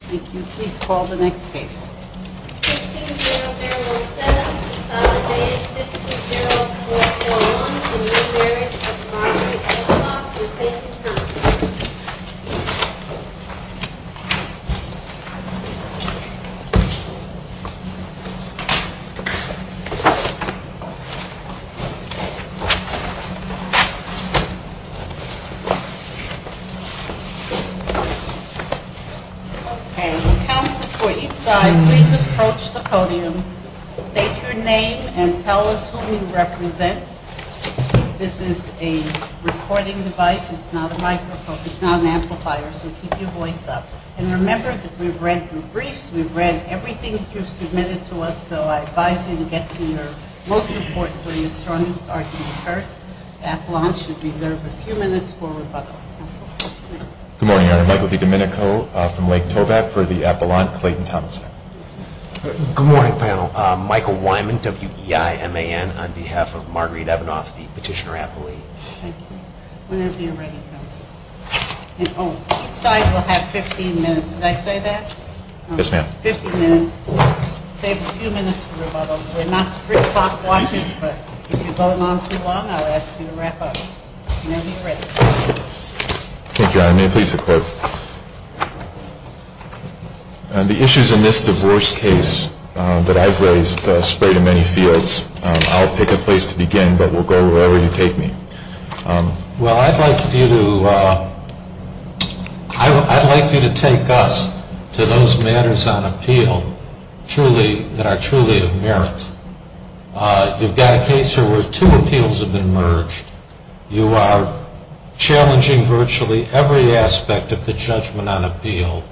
Thank you. Please call the next case. 16-0017, Saladay, 150441. A New Marriage of Robert Evanoff with Faith and Tom. Okay, will counsel for each side please approach the podium, state your name and tell us who you represent. This is a recording device, it's not a microphone, it's not an amplifier, so keep your voice up. And remember that we've read your briefs, we've read everything that you've submitted to us, so I advise you to get to your most important or your strongest argument first. At launch, you're reserved a few minutes for rebuttal. Counsel, please. Good morning, Your Honor. Michael DiDomenico from Lake Tobacco for the appellant, Clayton Thompson. Good morning, panel. Michael Wyman, W-E-I-M-A-N, on behalf of Marguerite Evanoff, the petitioner appellee. Whenever you're ready, counsel. Each side will have 15 minutes. Did I say that? Yes, ma'am. 15 minutes. Save a few minutes for rebuttal. We're not strict clock watchers, but if you're going on too long, I'll ask you to wrap up. Whenever you're ready. Thank you, Your Honor. May it please the Court. The issues in this divorce case that I've raised spread in many fields. I'll pick a place to begin, but we'll go wherever you take me. Well, I'd like you to take us to those matters on appeal that are truly of merit. You've got a case here where two appeals have been merged. You are challenging virtually every aspect of the judgment on appeal.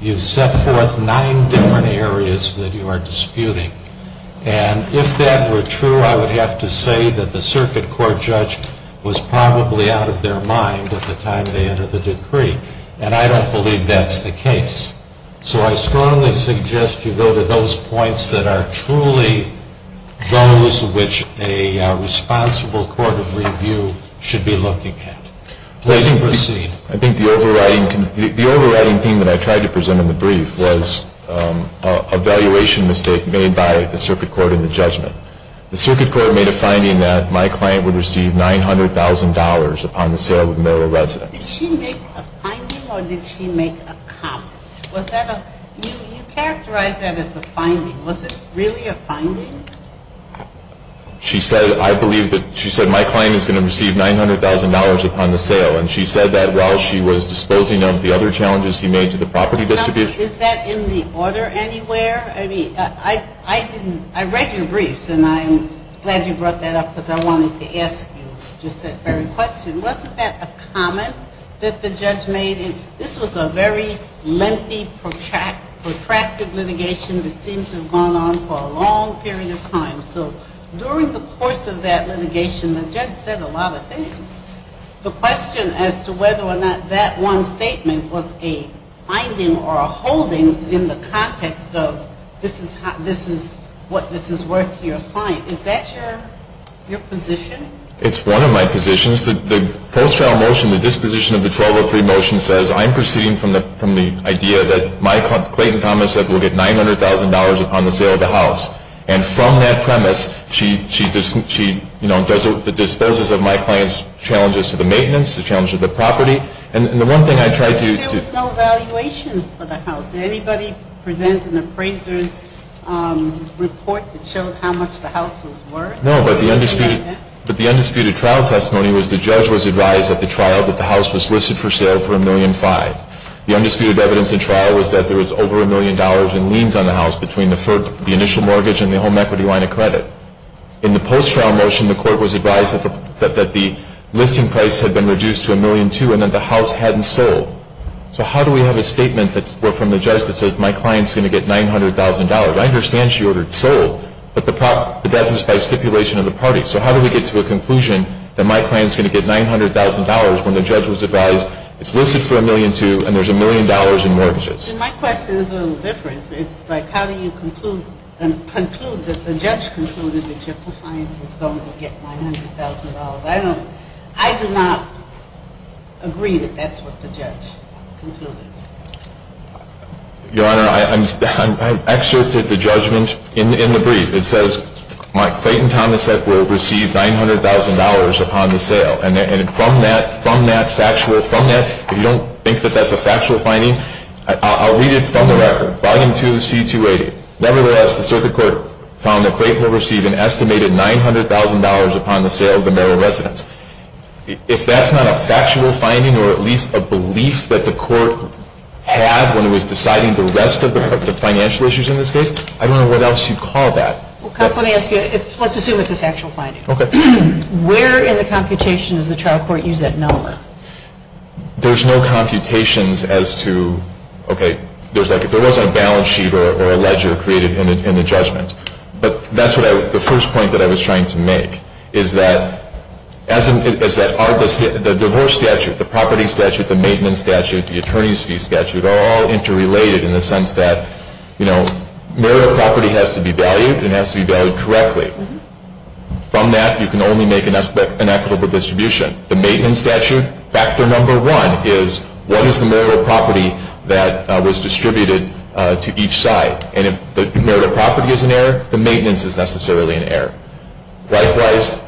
You've set forth nine different areas that you are disputing. And if that were true, I would have to say that the circuit court judge was probably out of their mind at the time they entered the decree. And I don't believe that's the case. So I strongly suggest you go to those points that are truly those which a responsible court of review should be looking at. Please proceed. I think the overriding theme that I tried to present in the brief was a valuation mistake made by the circuit court in the judgment. The circuit court made a finding that my client would receive $900,000 upon the sale of Merrill Residence. Did she make a finding or did she make a comment? You characterized that as a finding. Was it really a finding? She said, I believe that my client is going to receive $900,000 upon the sale. And she said that while she was disposing of the other challenges he made to the property distribution. Is that in the order anywhere? I read your briefs, and I'm glad you brought that up because I wanted to ask you just that very question. Wasn't that a comment that the judge made? This was a very lengthy, protracted litigation that seemed to have gone on for a long period of time. So during the course of that litigation, the judge said a lot of things. The question as to whether or not that one statement was a finding or a holding in the context of this is what this is worth to your client. Is that your position? It's one of my positions. The post-trial motion, the disposition of the 1203 motion says I'm proceeding from the idea that my client, Clayton Thomas, said will get $900,000 upon the sale of the house. And from that premise, she disposes of my client's challenges to the maintenance, the challenge of the property. And the one thing I tried to do. There was no valuation for the house. Did anybody present an appraiser's report that showed how much the house was worth? No, but the undisputed trial testimony was the judge was advised at the trial that the house was listed for sale for $1.5 million. The undisputed evidence in trial was that there was over $1 million in liens on the house between the initial mortgage and the home equity line of credit. In the post-trial motion, the court was advised that the listing price had been reduced to $1.2 million and that the house hadn't sold. So how do we have a statement from the judge that says my client is going to get $900,000? I understand she ordered sold, but that was by stipulation of the party. So how do we get to a conclusion that my client is going to get $900,000 when the judge was advised it's listed for $1.2 million and there's $1 million in mortgages? My question is a little different. It's like how do you conclude that the judge concluded that your client was going to get $900,000? I do not agree that that's what the judge concluded. Your Honor, I've excerpted the judgment in the brief. It says my client, Thomas, will receive $900,000 upon the sale. And from that factual, from that, if you don't think that that's a factual finding, I'll read it from the record. Volume 2, C-280. Nevertheless, the circuit court found that Clayton will receive an estimated $900,000 upon the sale of the Merrill residence. If that's not a factual finding or at least a belief that the court had when it was deciding the rest of the financial issues in this case, I don't know what else you'd call that. Let's assume it's a factual finding. Okay. Where in the computation does the trial court use that number? There's no computations as to, okay, there was a balance sheet or a ledger created in the judgment. But that's the first point that I was trying to make is that the divorce statute, the property statute, the maintenance statute, the attorney's fee statute are all interrelated in the sense that Merrill property has to be valued and has to be valued correctly. From that, you can only make an equitable distribution. The maintenance statute, factor number one is what is the Merrill property that was distributed to each side? And if the Merrill property is an error, the maintenance is necessarily an error. Likewise,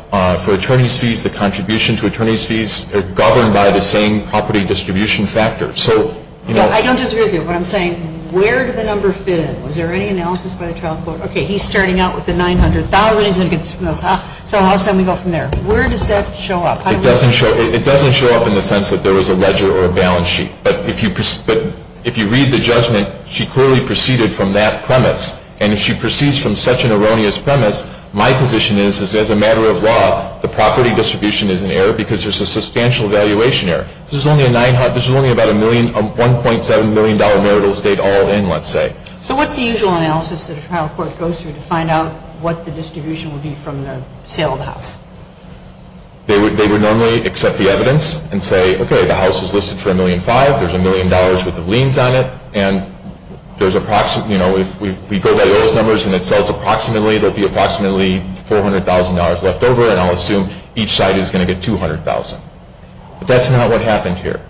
for attorney's fees, the contribution to attorney's fees are governed by the same property distribution factor. So, you know. I don't disagree with you. What I'm saying, where did the number fit in? Was there any analysis by the trial court? Okay, he's starting out with the $900,000. He's going to get this from us. So how does that make up from there? Where does that show up? It doesn't show up in the sense that there was a ledger or a balance sheet. But if you read the judgment, she clearly proceeded from that premise. And if she proceeds from such an erroneous premise, my position is, as a matter of law, the property distribution is an error because there's a substantial valuation error. There's only about a $1.7 million marital estate all in, let's say. So what's the usual analysis that a trial court goes through to find out what the distribution would be from the sale of the house? They would normally accept the evidence and say, okay, the house is listed for $1.5 million. There's $1 million worth of liens on it. And if we go by those numbers and it sells approximately, there will be approximately $400,000 left over. And I'll assume each side is going to get $200,000. But that's not what happened here.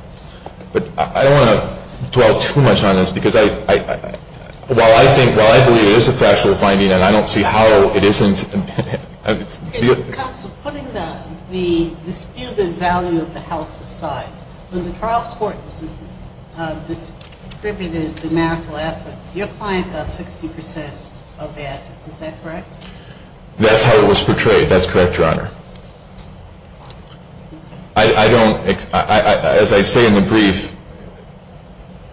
But I don't want to dwell too much on this because while I believe it is a factual finding and I don't see how it isn't. Counsel, putting the disputed value of the house aside, when the trial court distributed the marital assets, your client got 60% of the assets. Is that correct? That's how it was portrayed. That's correct, Your Honor. I don't, as I say in the brief,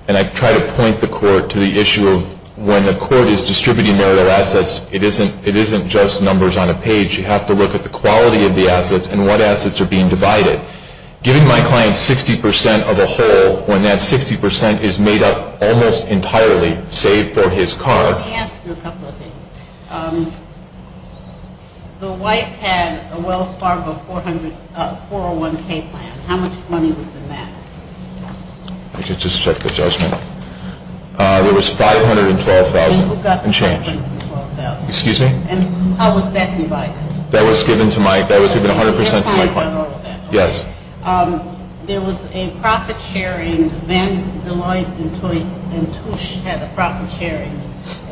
and I try to point the court to the issue of when the court is distributing marital assets, it isn't just numbers on a page. You have to look at the quality of the assets and what assets are being divided. Giving my client 60% of a whole when that 60% is made up almost entirely, save for his car. Let me ask you a couple of things. The wife had a Wells Fargo 401k plan. How much money was in that? Let me just check the judgment. There was $512,000 in change. Excuse me? And how was that divided? That was given to my, that was given 100% to my client. Your client got all of that? Yes. There was a profit-sharing, Van Deloitte and Touche had a profit-sharing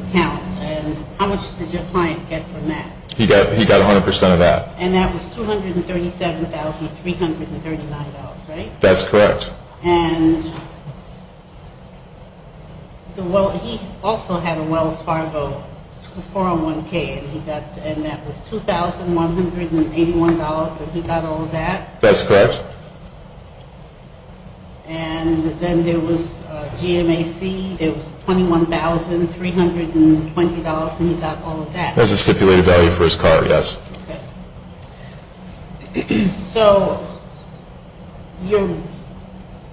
account, and how much did your client get from that? He got 100% of that. And that was $237,339, right? That's correct. And he also had a Wells Fargo 401k, and that was $2,181, and he got all of that? That's correct. And then there was GMAC, there was $21,320, and he got all of that? That's the stipulated value for his car, yes. Okay. So your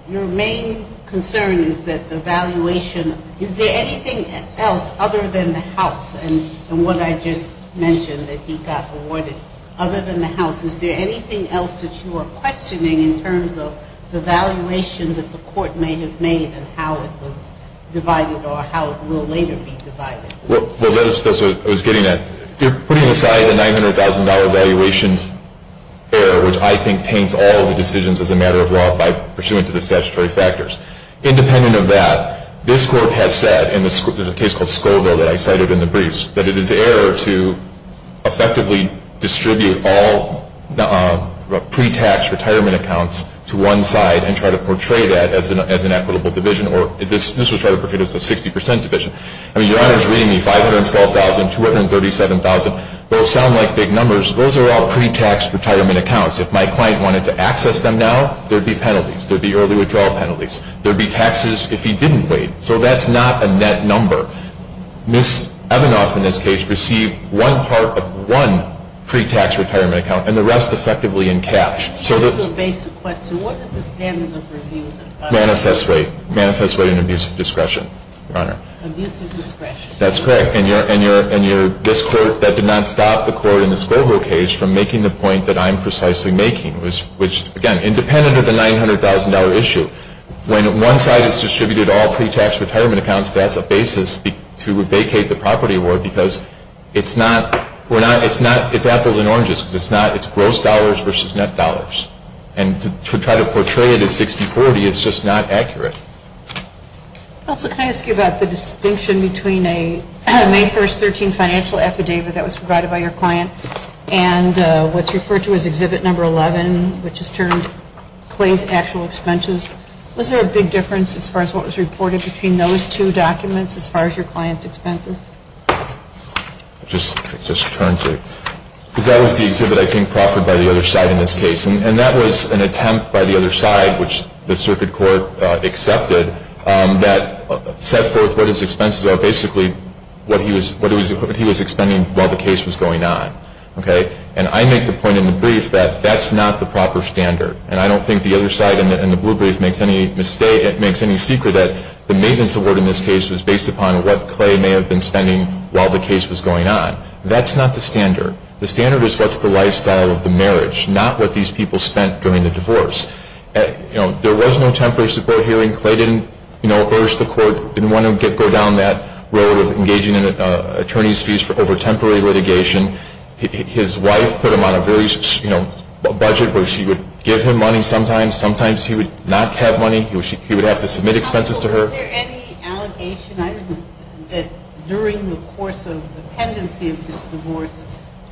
main concern is that the valuation, is there anything else other than the house and what I just mentioned that he got awarded, other than the house, is there anything else that you are questioning in terms of the valuation that the court may have made and how it was divided or how it will later be divided? Well, that's what I was getting at. You're putting aside a $900,000 valuation error, which I think taints all of the decisions as a matter of law by pursuant to the statutory factors. Independent of that, this court has said in a case called Scoville that I cited in the briefs, that it is error to effectively distribute all pre-tax retirement accounts to one side and try to portray that as an equitable division, or this was tried to portray as a 60% division. I mean, your Honor is reading me $512,000, $237,000. Those sound like big numbers. Those are all pre-tax retirement accounts. If my client wanted to access them now, there would be penalties. There would be early withdrawal penalties. There would be taxes if he didn't wait. So that's not a net number. Ms. Evanoff, in this case, received one part of one pre-tax retirement account and the rest effectively in cash. Just a basic question. What is the standard of review? Manifest weight. Manifest weight and abuse of discretion, Your Honor. Abuse of discretion. That's correct. And this court, that did not stop the court in the Scoville case from making the point that I'm precisely making, which, again, independent of the $900,000 issue. When one side has distributed all pre-tax retirement accounts, that's a basis to vacate the property award because it's apples and oranges. It's gross dollars versus net dollars. And to try to portray it as 60-40 is just not accurate. Counselor, can I ask you about the distinction between a May 1, 2013, financial affidavit that was provided by your client and what's referred to as Exhibit No. 11, which is termed Clay's actual expenses? Was there a big difference as far as what was reported between those two documents as far as your client's expenses? Just turn to it. Because that was the exhibit I think proffered by the other side in this case. And that was an attempt by the other side, which the circuit court accepted, that set forth what his expenses are, basically what he was expending while the case was going on. And I make the point in the brief that that's not the proper standard. And I don't think the other side in the blue brief makes any secret that the maintenance award in this case was based upon what Clay may have been spending while the case was going on. That's not the standard. The standard is what's the lifestyle of the marriage, not what these people spent during the divorce. You know, there was no temporary support hearing. Clay didn't, you know, urge the court, didn't want to go down that road of engaging in attorney's fees over temporary litigation. His wife put him on a very, you know, budget where she would give him money sometimes. Sometimes he would not have money. He would have to submit expenses to her. Was there any allegation that during the course of the pendency of this divorce,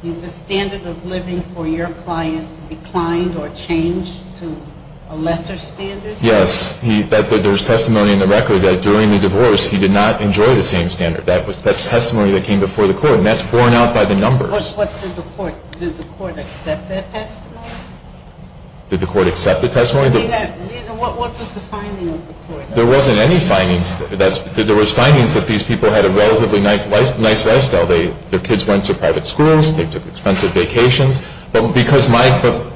the standard of living for your client declined or changed to a lesser standard? Yes. There's testimony in the record that during the divorce he did not enjoy the same standard. That's testimony that came before the court. And that's borne out by the numbers. What did the court, did the court accept that testimony? Did the court accept the testimony? What was the finding of the court? There wasn't any findings. There was findings that these people had a relatively nice lifestyle. Their kids went to private schools. They took expensive vacations. But because my,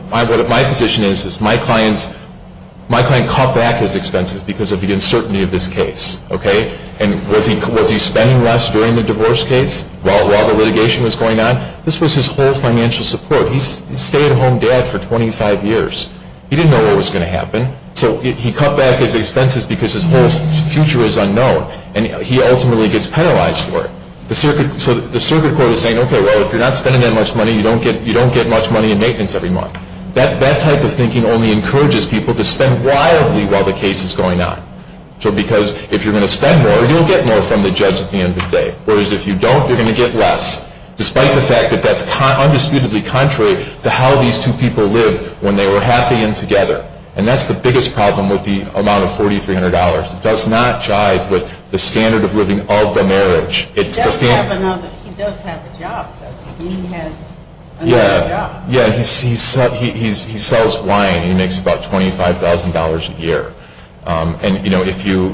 what my position is, is my client's, my client cut back his expenses because of the uncertainty of this case. Okay? And was he spending less during the divorce case while the litigation was going on? This was his whole financial support. He stayed a home dad for 25 years. He didn't know what was going to happen. So he cut back his expenses because his whole future is unknown. And he ultimately gets penalized for it. So the circuit court is saying, okay, well, if you're not spending that much money, you don't get much money in maintenance every month. That type of thinking only encourages people to spend wildly while the case is going on. So because if you're going to spend more, you'll get more from the judge at the end of the day. Whereas if you don't, you're going to get less, despite the fact that that's undisputedly contrary to how these two people lived when they were happy and together. And that's the biggest problem with the amount of $4,300. It does not jive with the standard of living of the marriage. He does have another job, doesn't he? He has another job. Yeah, he sells wine. He makes about $25,000 a year. And, you know, if you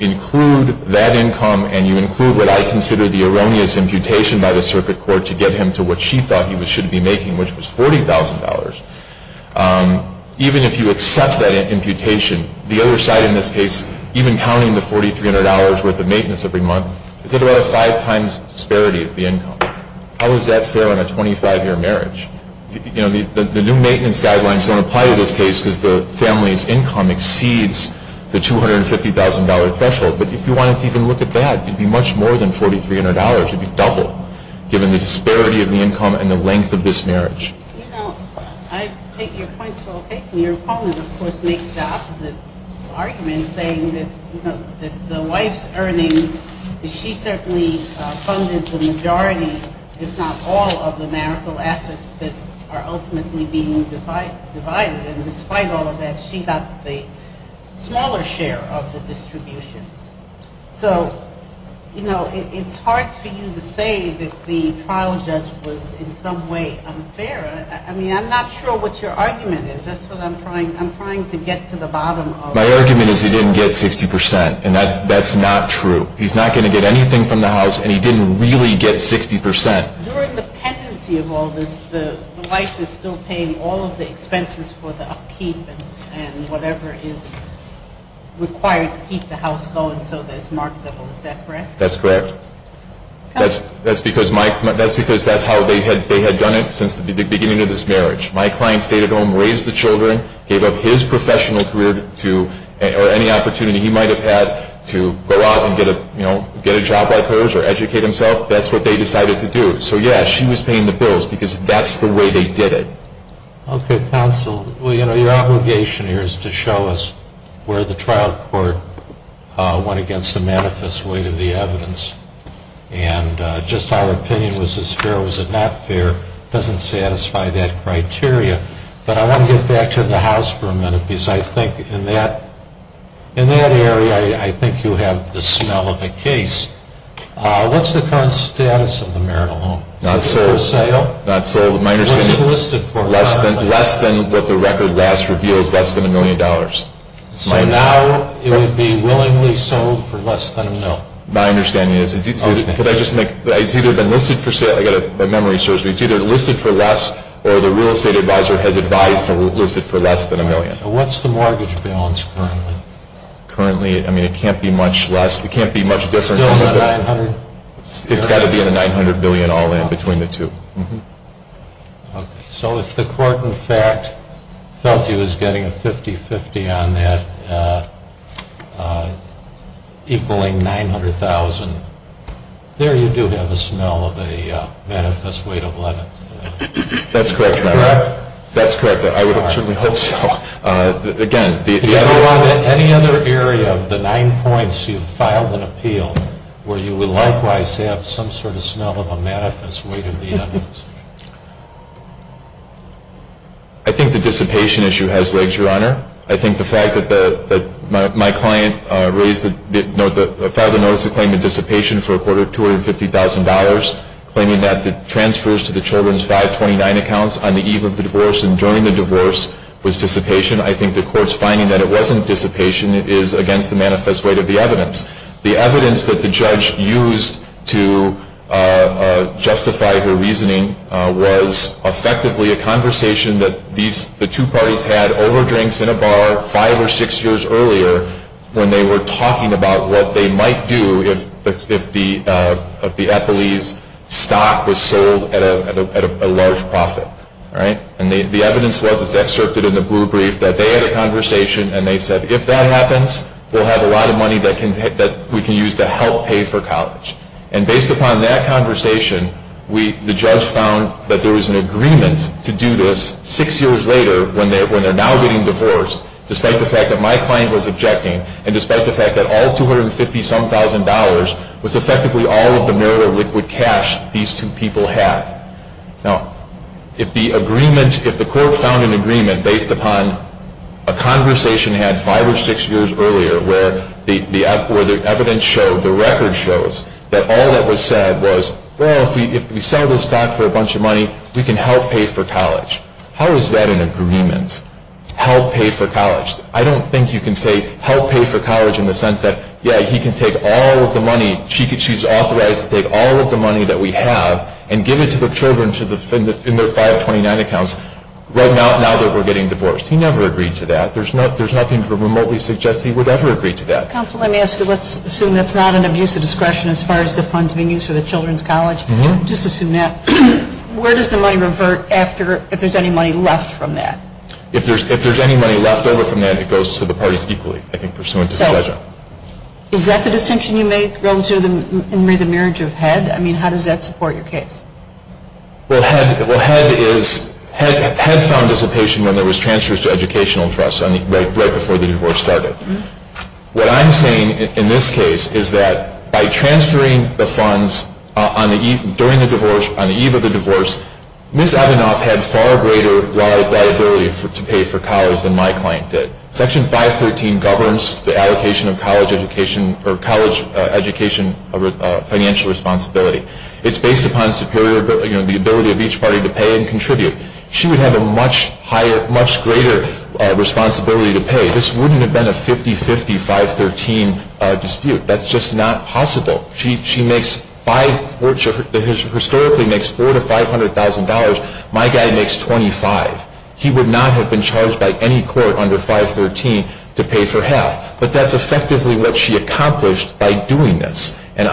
include that income and you include what I consider the erroneous imputation by the circuit court to get him to what she thought he should be making, which was $40,000, even if you accept that imputation, the other side in this case, even counting the $4,300 worth of maintenance every month, is at about a five times disparity of the income. How is that fair on a 25-year marriage? You know, the new maintenance guidelines don't apply to this case because the family's income exceeds the $250,000 threshold. But if you wanted to even look at that, it would be much more than $4,300. It would be double, given the disparity of the income and the length of this marriage. You know, I take your points well taken. Your opponent, of course, makes the opposite argument, saying that, you know, that the wife's earnings, she certainly funded the majority, if not all, of the marital assets that are ultimately being divided. And despite all of that, she got the smaller share of the distribution. So, you know, it's hard for you to say that the trial judge was in some way unfair. I mean, I'm not sure what your argument is. That's what I'm trying to get to the bottom of. My argument is he didn't get 60 percent, and that's not true. He's not going to get anything from the house, and he didn't really get 60 percent. During the pendency of all this, the wife is still paying all of the expenses for the upkeep and whatever is required to keep the house going so that it's marketable. Is that correct? That's correct. That's because that's how they had done it since the beginning of this marriage. My client stayed at home, raised the children, gave up his professional career to, or any opportunity he might have had to go out and get a job like hers or educate himself. That's what they decided to do. So, yes, she was paying the bills because that's the way they did it. Okay, counsel. Well, you know, your obligation here is to show us where the trial court went against the manifest weight of the evidence. And just our opinion, was this fair or was it not fair, doesn't satisfy that criteria. But I want to get back to the house for a minute because I think in that area I think you have the smell of a case. What's the current status of the marital home? Not sold. Is it for sale? Not sold. What's it listed for? Less than what the record last revealed is less than a million dollars. So now it would be willingly sold for less than a million? My understanding is it's either been listed for sale. I've got a memory surge. It's either listed for less or the real estate advisor has advised to list it for less than a million. What's the mortgage balance currently? I mean, it can't be much less. It can't be much different. Still not 900? It's got to be at a 900 billion all in between the two. Okay. So if the court, in fact, felt he was getting a 50-50 on that equaling 900,000, there you do have a smell of a manifest weight of 11. That's correct, Your Honor. That's correct. I would certainly hope so. Any other area of the nine points you've filed an appeal where you would likewise have some sort of smell of a manifest weight of the evidence? I think the dissipation issue has legs, Your Honor. I think the fact that my client filed a notice to claim the dissipation for a quarter of $250,000, claiming that the transfers to the children's 529 accounts on the eve of the divorce and during the divorce was dissipation, I think the court's finding that it wasn't dissipation. It is against the manifest weight of the evidence. The evidence that the judge used to justify her reasoning was effectively a conversation that the two parties had over drinks in a bar five or six years earlier when they were talking about what they might do if the Eppley's stock was sold at a large profit. And the evidence was, as excerpted in the blue brief, that they had a conversation and they said, if that happens, we'll have a lot of money that we can use to help pay for college. And based upon that conversation, the judge found that there was an agreement to do this six years later when they're now getting divorced, despite the fact that my client was objecting and despite the fact that all $250,000 was effectively all of the marital liquid cash these two people had. Now, if the agreement, if the court found an agreement based upon a conversation they had five or six years earlier where the evidence showed, the record shows, that all that was said was, well, if we sell this stock for a bunch of money, we can help pay for college. How is that an agreement, help pay for college? I don't think you can say help pay for college in the sense that, yeah, he can take all of the money, she's authorized to take all of the money that we have and give it to the children in their 529 accounts right now that we're getting divorced. He never agreed to that. There's nothing remotely suggest he would ever agree to that. Counsel, let me ask you, let's assume that's not an abuse of discretion as far as the funds being used for the children's college. Just assume that. Where does the money revert after, if there's any money left from that? If there's any money left over from that, it goes to the parties equally, I think, pursuant to the judgment. Is that the distinction you make relative to the marriage of HEDD? I mean, how does that support your case? Well, HEDD is, HEDD found dissipation when there was transfers to educational trusts right before the divorce started. What I'm saying in this case is that by transferring the funds during the divorce, on the eve of the divorce, Ms. Evanoff had far greater liability to pay for college than my client did. Section 513 governs the allocation of college education or college education financial responsibility. It's based upon the ability of each party to pay and contribute. She would have a much higher, much greater responsibility to pay. This wouldn't have been a 50-50, 513 dispute. That's just not possible. She makes, historically, makes $400,000 to $500,000. My guy makes $25,000. He would not have been charged by any court under 513 to pay for half. But that's effectively what she accomplished by doing this. And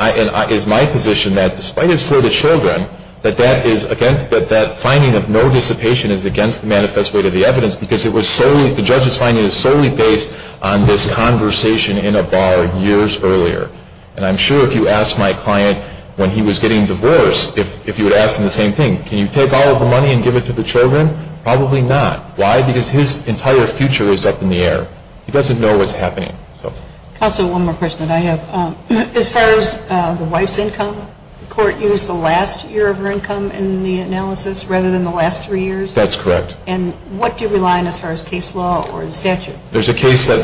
it's my position that, despite it's for the children, that that finding of no dissipation is against the manifest weight of the evidence because the judge's finding is solely based on this conversation in a bar years earlier. And I'm sure if you asked my client when he was getting divorced, if you would ask him the same thing, can you take all of the money and give it to the children? Probably not. Why? Because his entire future is up in the air. He doesn't know what's happening. Also, one more question that I have. As far as the wife's income, the court used the last year of her income in the analysis rather than the last three years? That's correct. And what do you rely on as far as case law or the statute? There's a case that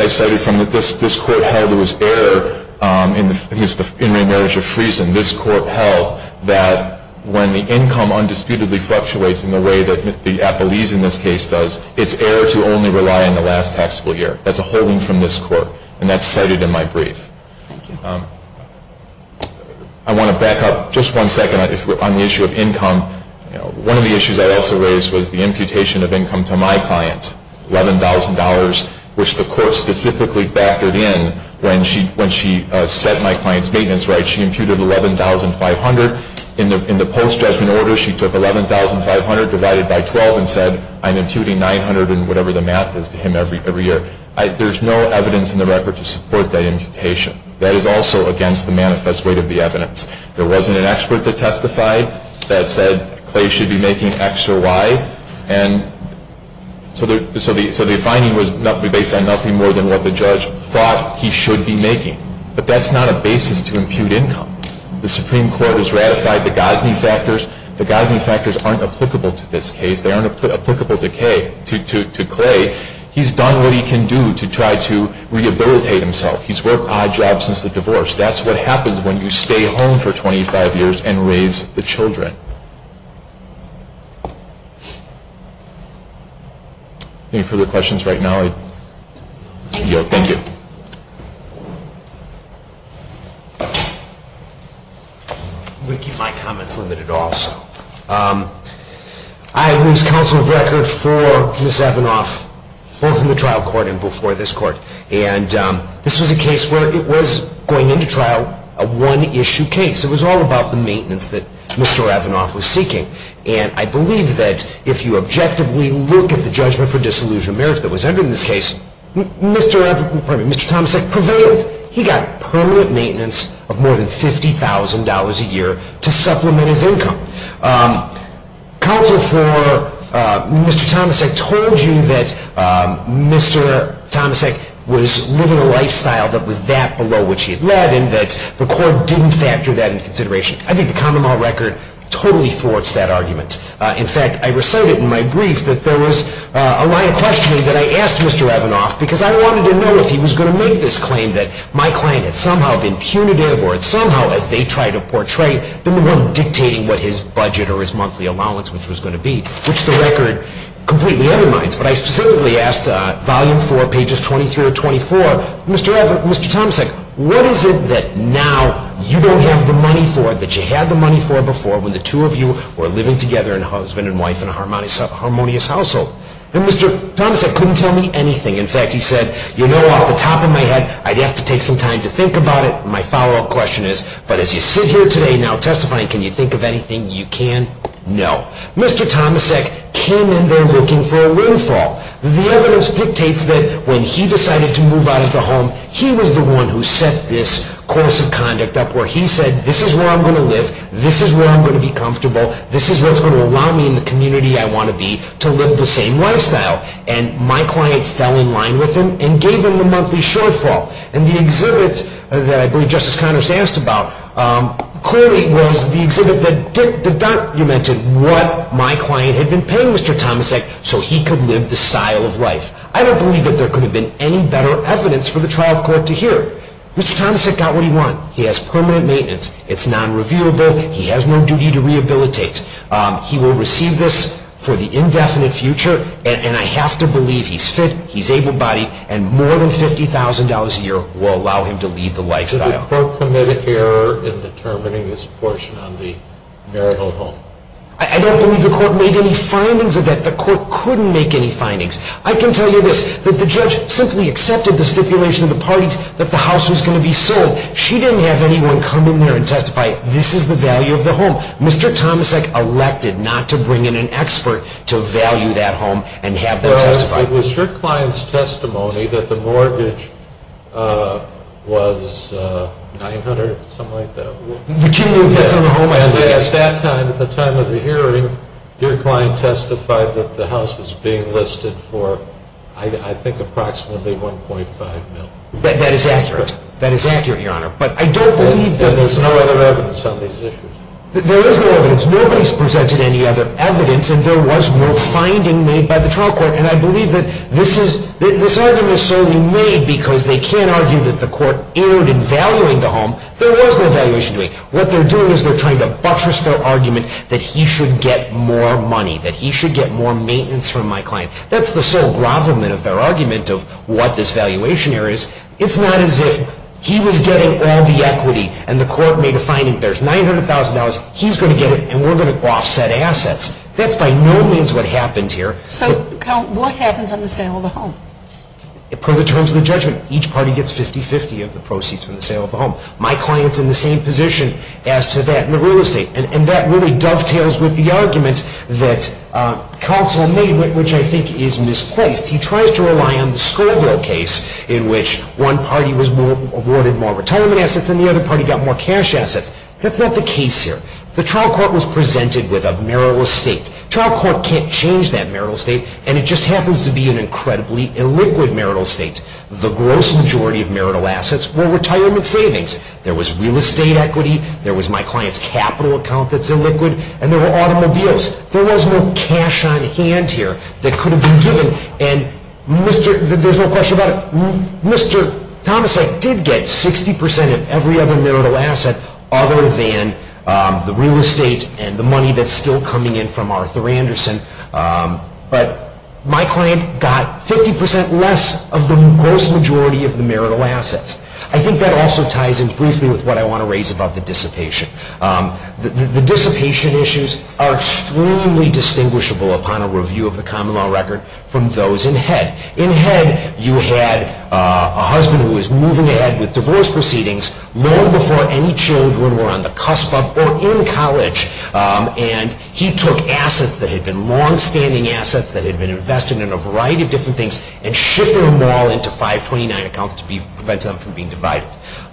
I cited from this court held it was error in the marriage of Friesen. This court held that when the income undisputedly fluctuates in the way that the appellees in this case does, it's error to only rely on the last taxable year. That's a holding from this court. And that's cited in my brief. Thank you. I want to back up just one second on the issue of income. One of the issues I also raised was the imputation of income to my clients, $11,000, which the court specifically factored in when she set my client's maintenance rate. She imputed $11,500. In the post-judgment order, she took $11,500 divided by 12 and said, I'm imputing $900 in whatever the math is to him every year. There's no evidence in the record to support that imputation. That is also against the manifest weight of the evidence. There wasn't an expert that testified that said Clay should be making X or Y. And so the finding was based on nothing more than what the judge thought he should be making. But that's not a basis to impute income. The Supreme Court has ratified the Gosney factors. The Gosney factors aren't applicable to this case. They aren't applicable to Clay. He's done what he can do to try to rehabilitate himself. He's worked odd jobs since the divorce. That's what happens when you stay home for 25 years and raise the children. Any further questions right now? Thank you. I'm going to keep my comments limited also. I was counsel of record for Ms. Evanoff both in the trial court and before this court. And this was a case where it was going into trial a one-issue case. It was all about the maintenance that Mr. Evanoff was seeking. And I believe that if you objectively look at the judgment for disillusioned merits that was entered in this case, Mr. Tomasek prevailed. He got permanent maintenance of more than $50,000 a year to supplement his income. Counsel for Mr. Tomasek told you that Mr. Tomasek was living a lifestyle that was that below which he had led and that the court didn't factor that into consideration. I think the common law record totally thwarts that argument. In fact, I recited in my brief that there was a line of questioning that I asked Mr. Evanoff because I wanted to know if he was going to make this claim that my client had somehow been punitive or somehow, as they try to portray, been the one dictating what his budget or his monthly allowance, which was going to be, which the record completely undermines. But I specifically asked volume 4, pages 23 or 24, Mr. Tomasek, what is it that now you don't have the money for that you had the money for before when the two of you were living together in husband and wife in a harmonious household? And Mr. Tomasek couldn't tell me anything. In fact, he said, you know, off the top of my head, I'd have to take some time to think about it. My follow-up question is, but as you sit here today now testifying, can you think of anything you can? No. Mr. Tomasek came in there looking for a windfall. The evidence dictates that when he decided to move out of the home, he was the one who set this course of conduct up where he said, this is where I'm going to live, this is where I'm going to be comfortable, this is what's going to allow me in the community I want to be to live the same lifestyle. And my client fell in line with him and gave him the monthly shortfall. And the exhibit that I believe Justice Connors asked about clearly was the exhibit that documented what my client had been paying Mr. Tomasek so he could live the style of life. I don't believe that there could have been any better evidence for the trial court to hear. Mr. Tomasek got what he wanted. He has permanent maintenance. It's non-reviewable. He has no duty to rehabilitate. He will receive this for the indefinite future, and I have to believe he's fit, he's able-bodied, and more than $50,000 a year will allow him to lead the lifestyle. Did the court commit an error in determining this portion on the marital home? I don't believe the court made any findings of that. The court couldn't make any findings. I can tell you this, that the judge simply accepted the stipulation of the parties that the house was going to be sold. She didn't have anyone come in there and testify, this is the value of the home. Mr. Tomasek elected not to bring in an expert to value that home and have them testify. Was your client's testimony that the mortgage was $900,000, something like that? The key move that's on the home is yes. At that time, at the time of the hearing, your client testified that the house was being listed for, I think, approximately $1.5 million. That is accurate. That is accurate, Your Honor. But I don't believe that there's no other evidence on these issues. There is no evidence. Nobody's presented any other evidence, and there was no finding made by the trial court, and I believe that this argument is solely made because they can't argue that the court erred in valuing the home. There was no valuation doing. What they're doing is they're trying to buttress their argument that he should get more money, that he should get more maintenance from my client. That's the sole grovelment of their argument of what this valuation error is. It's not as if he was getting all the equity and the court made a finding, there's $900,000, he's going to get it, and we're going to offset assets. That's by no means what happened here. So what happens on the sale of the home? Per the terms of the judgment, each party gets 50-50 of the proceeds from the sale of the home. My client's in the same position as to that in the real estate, and that really dovetails with the argument that counsel made, which I think is misplaced. He tries to rely on the Scoville case in which one party was awarded more retirement assets and the other party got more cash assets. That's not the case here. The trial court was presented with a merriless state. Trial court can't change that merrill state, and it just happens to be an incredibly illiquid merrill state. The gross majority of merrill assets were retirement savings. There was real estate equity, there was my client's capital account that's illiquid, and there were automobiles. There was no cash on hand here that could have been given. And there's no question about it, Mr. Tomasek did get 60% of every other merrill asset other than the real estate and the money that's still coming in from Arthur Anderson. But my client got 50% less of the gross majority of the merrill assets. I think that also ties in briefly with what I want to raise about the dissipation. The dissipation issues are extremely distinguishable upon a review of the common law record from those in head. In head, you had a husband who was moving ahead with divorce proceedings long before any children were on the cusp of or in college. And he took assets that had been longstanding assets that had been invested in a variety of different things and shifted them all into 529 accounts to prevent them from being divided.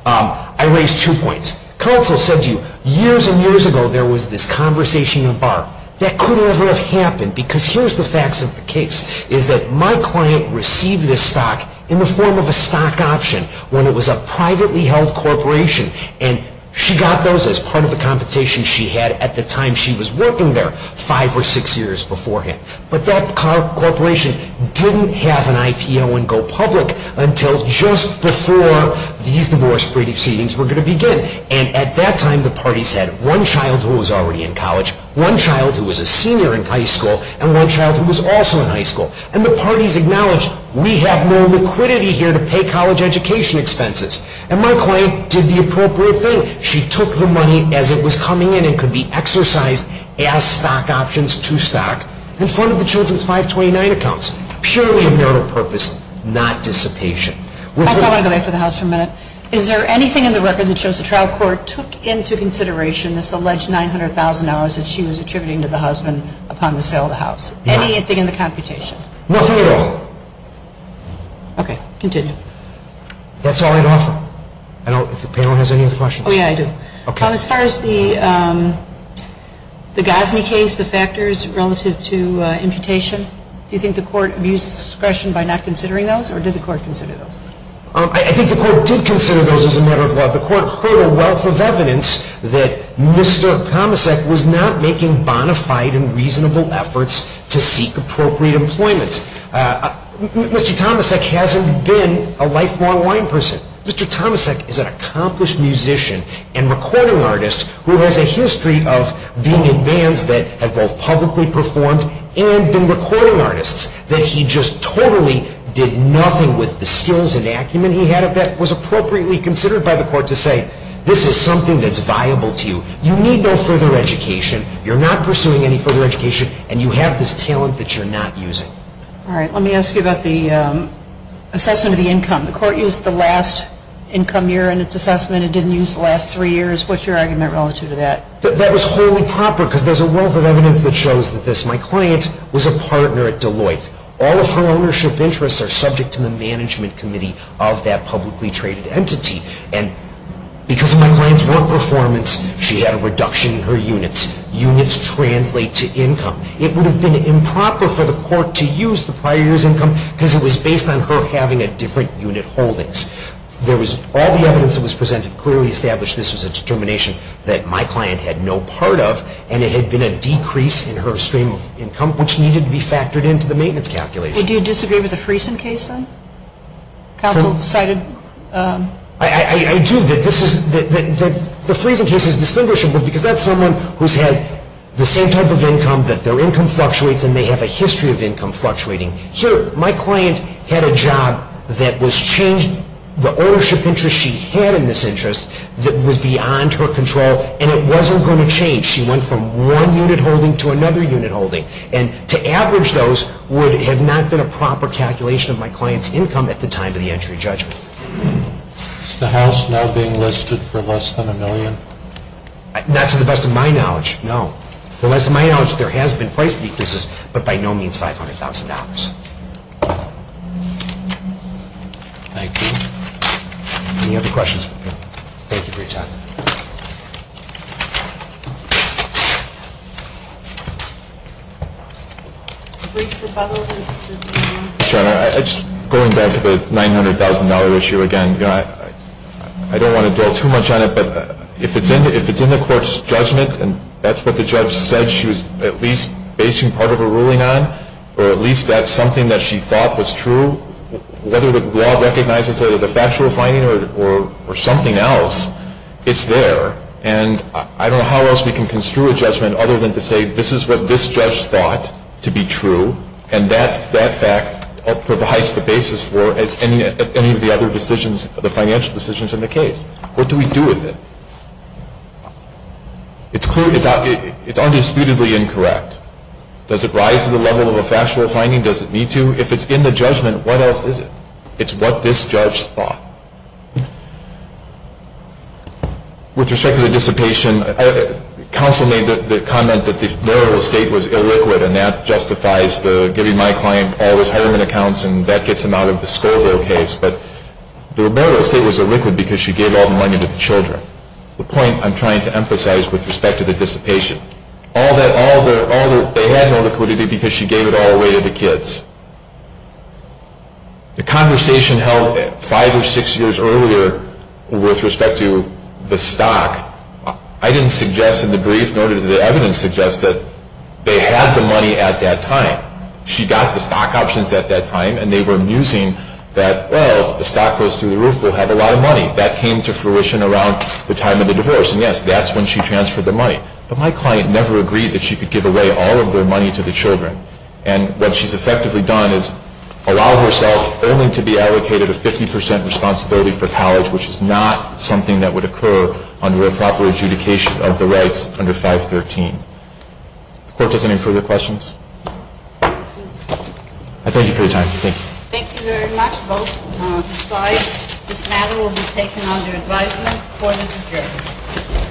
I raised two points. Counsel said to you, years and years ago there was this conversation in the bar. That could never have happened because here's the facts of the case. Is that my client received this stock in the form of a stock option when it was a privately held corporation. And she got those as part of the compensation she had at the time she was working there, five or six years beforehand. But that corporation didn't have an IPO and go public until just before these divorce proceedings were going to begin. And at that time, the parties had one child who was already in college, one child who was a senior in high school, and one child who was also in high school. And the parties acknowledged, we have no liquidity here to pay college education expenses. And my client did the appropriate thing. She took the money as it was coming in and could be exercised as stock options to stock in front of the children's 529 accounts. Purely of marital purpose, not dissipation. Also, I want to go back to the House for a minute. Is there anything in the record that shows the trial court took into consideration this alleged 900,000 hours that she was attributing to the husband upon the sale of the house? No. Anything in the computation? Nothing at all. Okay, continue. That's all I'd offer. I don't know if the panel has any other questions. Oh, yeah, I do. Okay. As far as the Gosney case, the factors relative to imputation, do you think the court abused discretion by not considering those, or did the court consider those? I think the court did consider those as a matter of law. The court heard a wealth of evidence that Mr. Tomasek was not making bona fide and reasonable efforts to seek appropriate employment. Mr. Tomasek hasn't been a lifelong wine person. Mr. Tomasek is an accomplished musician and recording artist who has a history of being in bands that have both publicly performed and been recording artists. That he just totally did nothing with the skills and acumen he had of that was appropriately considered by the court to say, this is something that's viable to you. You need no further education. You're not pursuing any further education, and you have this talent that you're not using. All right. Let me ask you about the assessment of the income. The court used the last income year in its assessment. It didn't use the last three years. What's your argument relative to that? That was wholly proper because there's a wealth of evidence that shows that this. My client was a partner at Deloitte. All of her ownership interests are subject to the management committee of that publicly traded entity, and because of my client's work performance, she had a reduction in her units. Units translate to income. It would have been improper for the court to use the prior year's income because it was based on her having a different unit holdings. There was all the evidence that was presented clearly established this was a determination that my client had no part of, and it had been a decrease in her stream of income, which needed to be factored into the maintenance calculation. Do you disagree with the Friesen case, then? Counsel cited. I do. The Friesen case is distinguishable because that's someone who's had the same type of income, that their income fluctuates, and they have a history of income fluctuating. Here, my client had a job that was changed. The ownership interest she had in this interest was beyond her control, and it wasn't going to change. She went from one unit holding to another unit holding, and to average those would have not been a proper calculation of my client's income at the time of the entry judgment. Is the house now being listed for less than a million? Not to the best of my knowledge, no. To the best of my knowledge, there has been price decreases, but by no means $500,000. Thank you. Any other questions? Thank you for your time. Just going back to the $900,000 issue again, I don't want to dwell too much on it, but if it's in the court's judgment and that's what the judge said she was at least basing part of her ruling on, or at least that's something that she thought was true, whether the law recognizes it as a factual finding or something else, it's there. And I don't know how else we can construe a judgment other than to say this is what this judge thought to be true, and that fact provides the basis for any of the other decisions, the financial decisions in the case. What do we do with it? It's undisputedly incorrect. Does it rise to the level of a factual finding? Does it need to? If it's in the judgment, what else is it? It's what this judge thought. With respect to the dissipation, counsel made the comment that the burial estate was illiquid, and that justifies the giving my client all those hiring accounts, and that gets them out of the Scoville case. But the burial estate was illiquid because she gave all the money to the children. That's the point I'm trying to emphasize with respect to the dissipation. They had no liquidity because she gave it all away to the kids. The conversation held five or six years earlier with respect to the stock. I didn't suggest in the brief, nor did the evidence suggest that they had the money at that time. She got the stock options at that time, and they were musing that, well, if the stock goes through the roof, we'll have a lot of money. That came to fruition around the time of the divorce, and yes, that's when she transferred the money. But my client never agreed that she could give away all of their money to the children. And what she's effectively done is allow herself only to be allocated a 50 percent responsibility for college, which is not something that would occur under a proper adjudication of the rights under 513. The court has any further questions? I thank you for your time. Thank you. Thank you very much, both sides. This matter will be taken under advisement. Court is adjourned.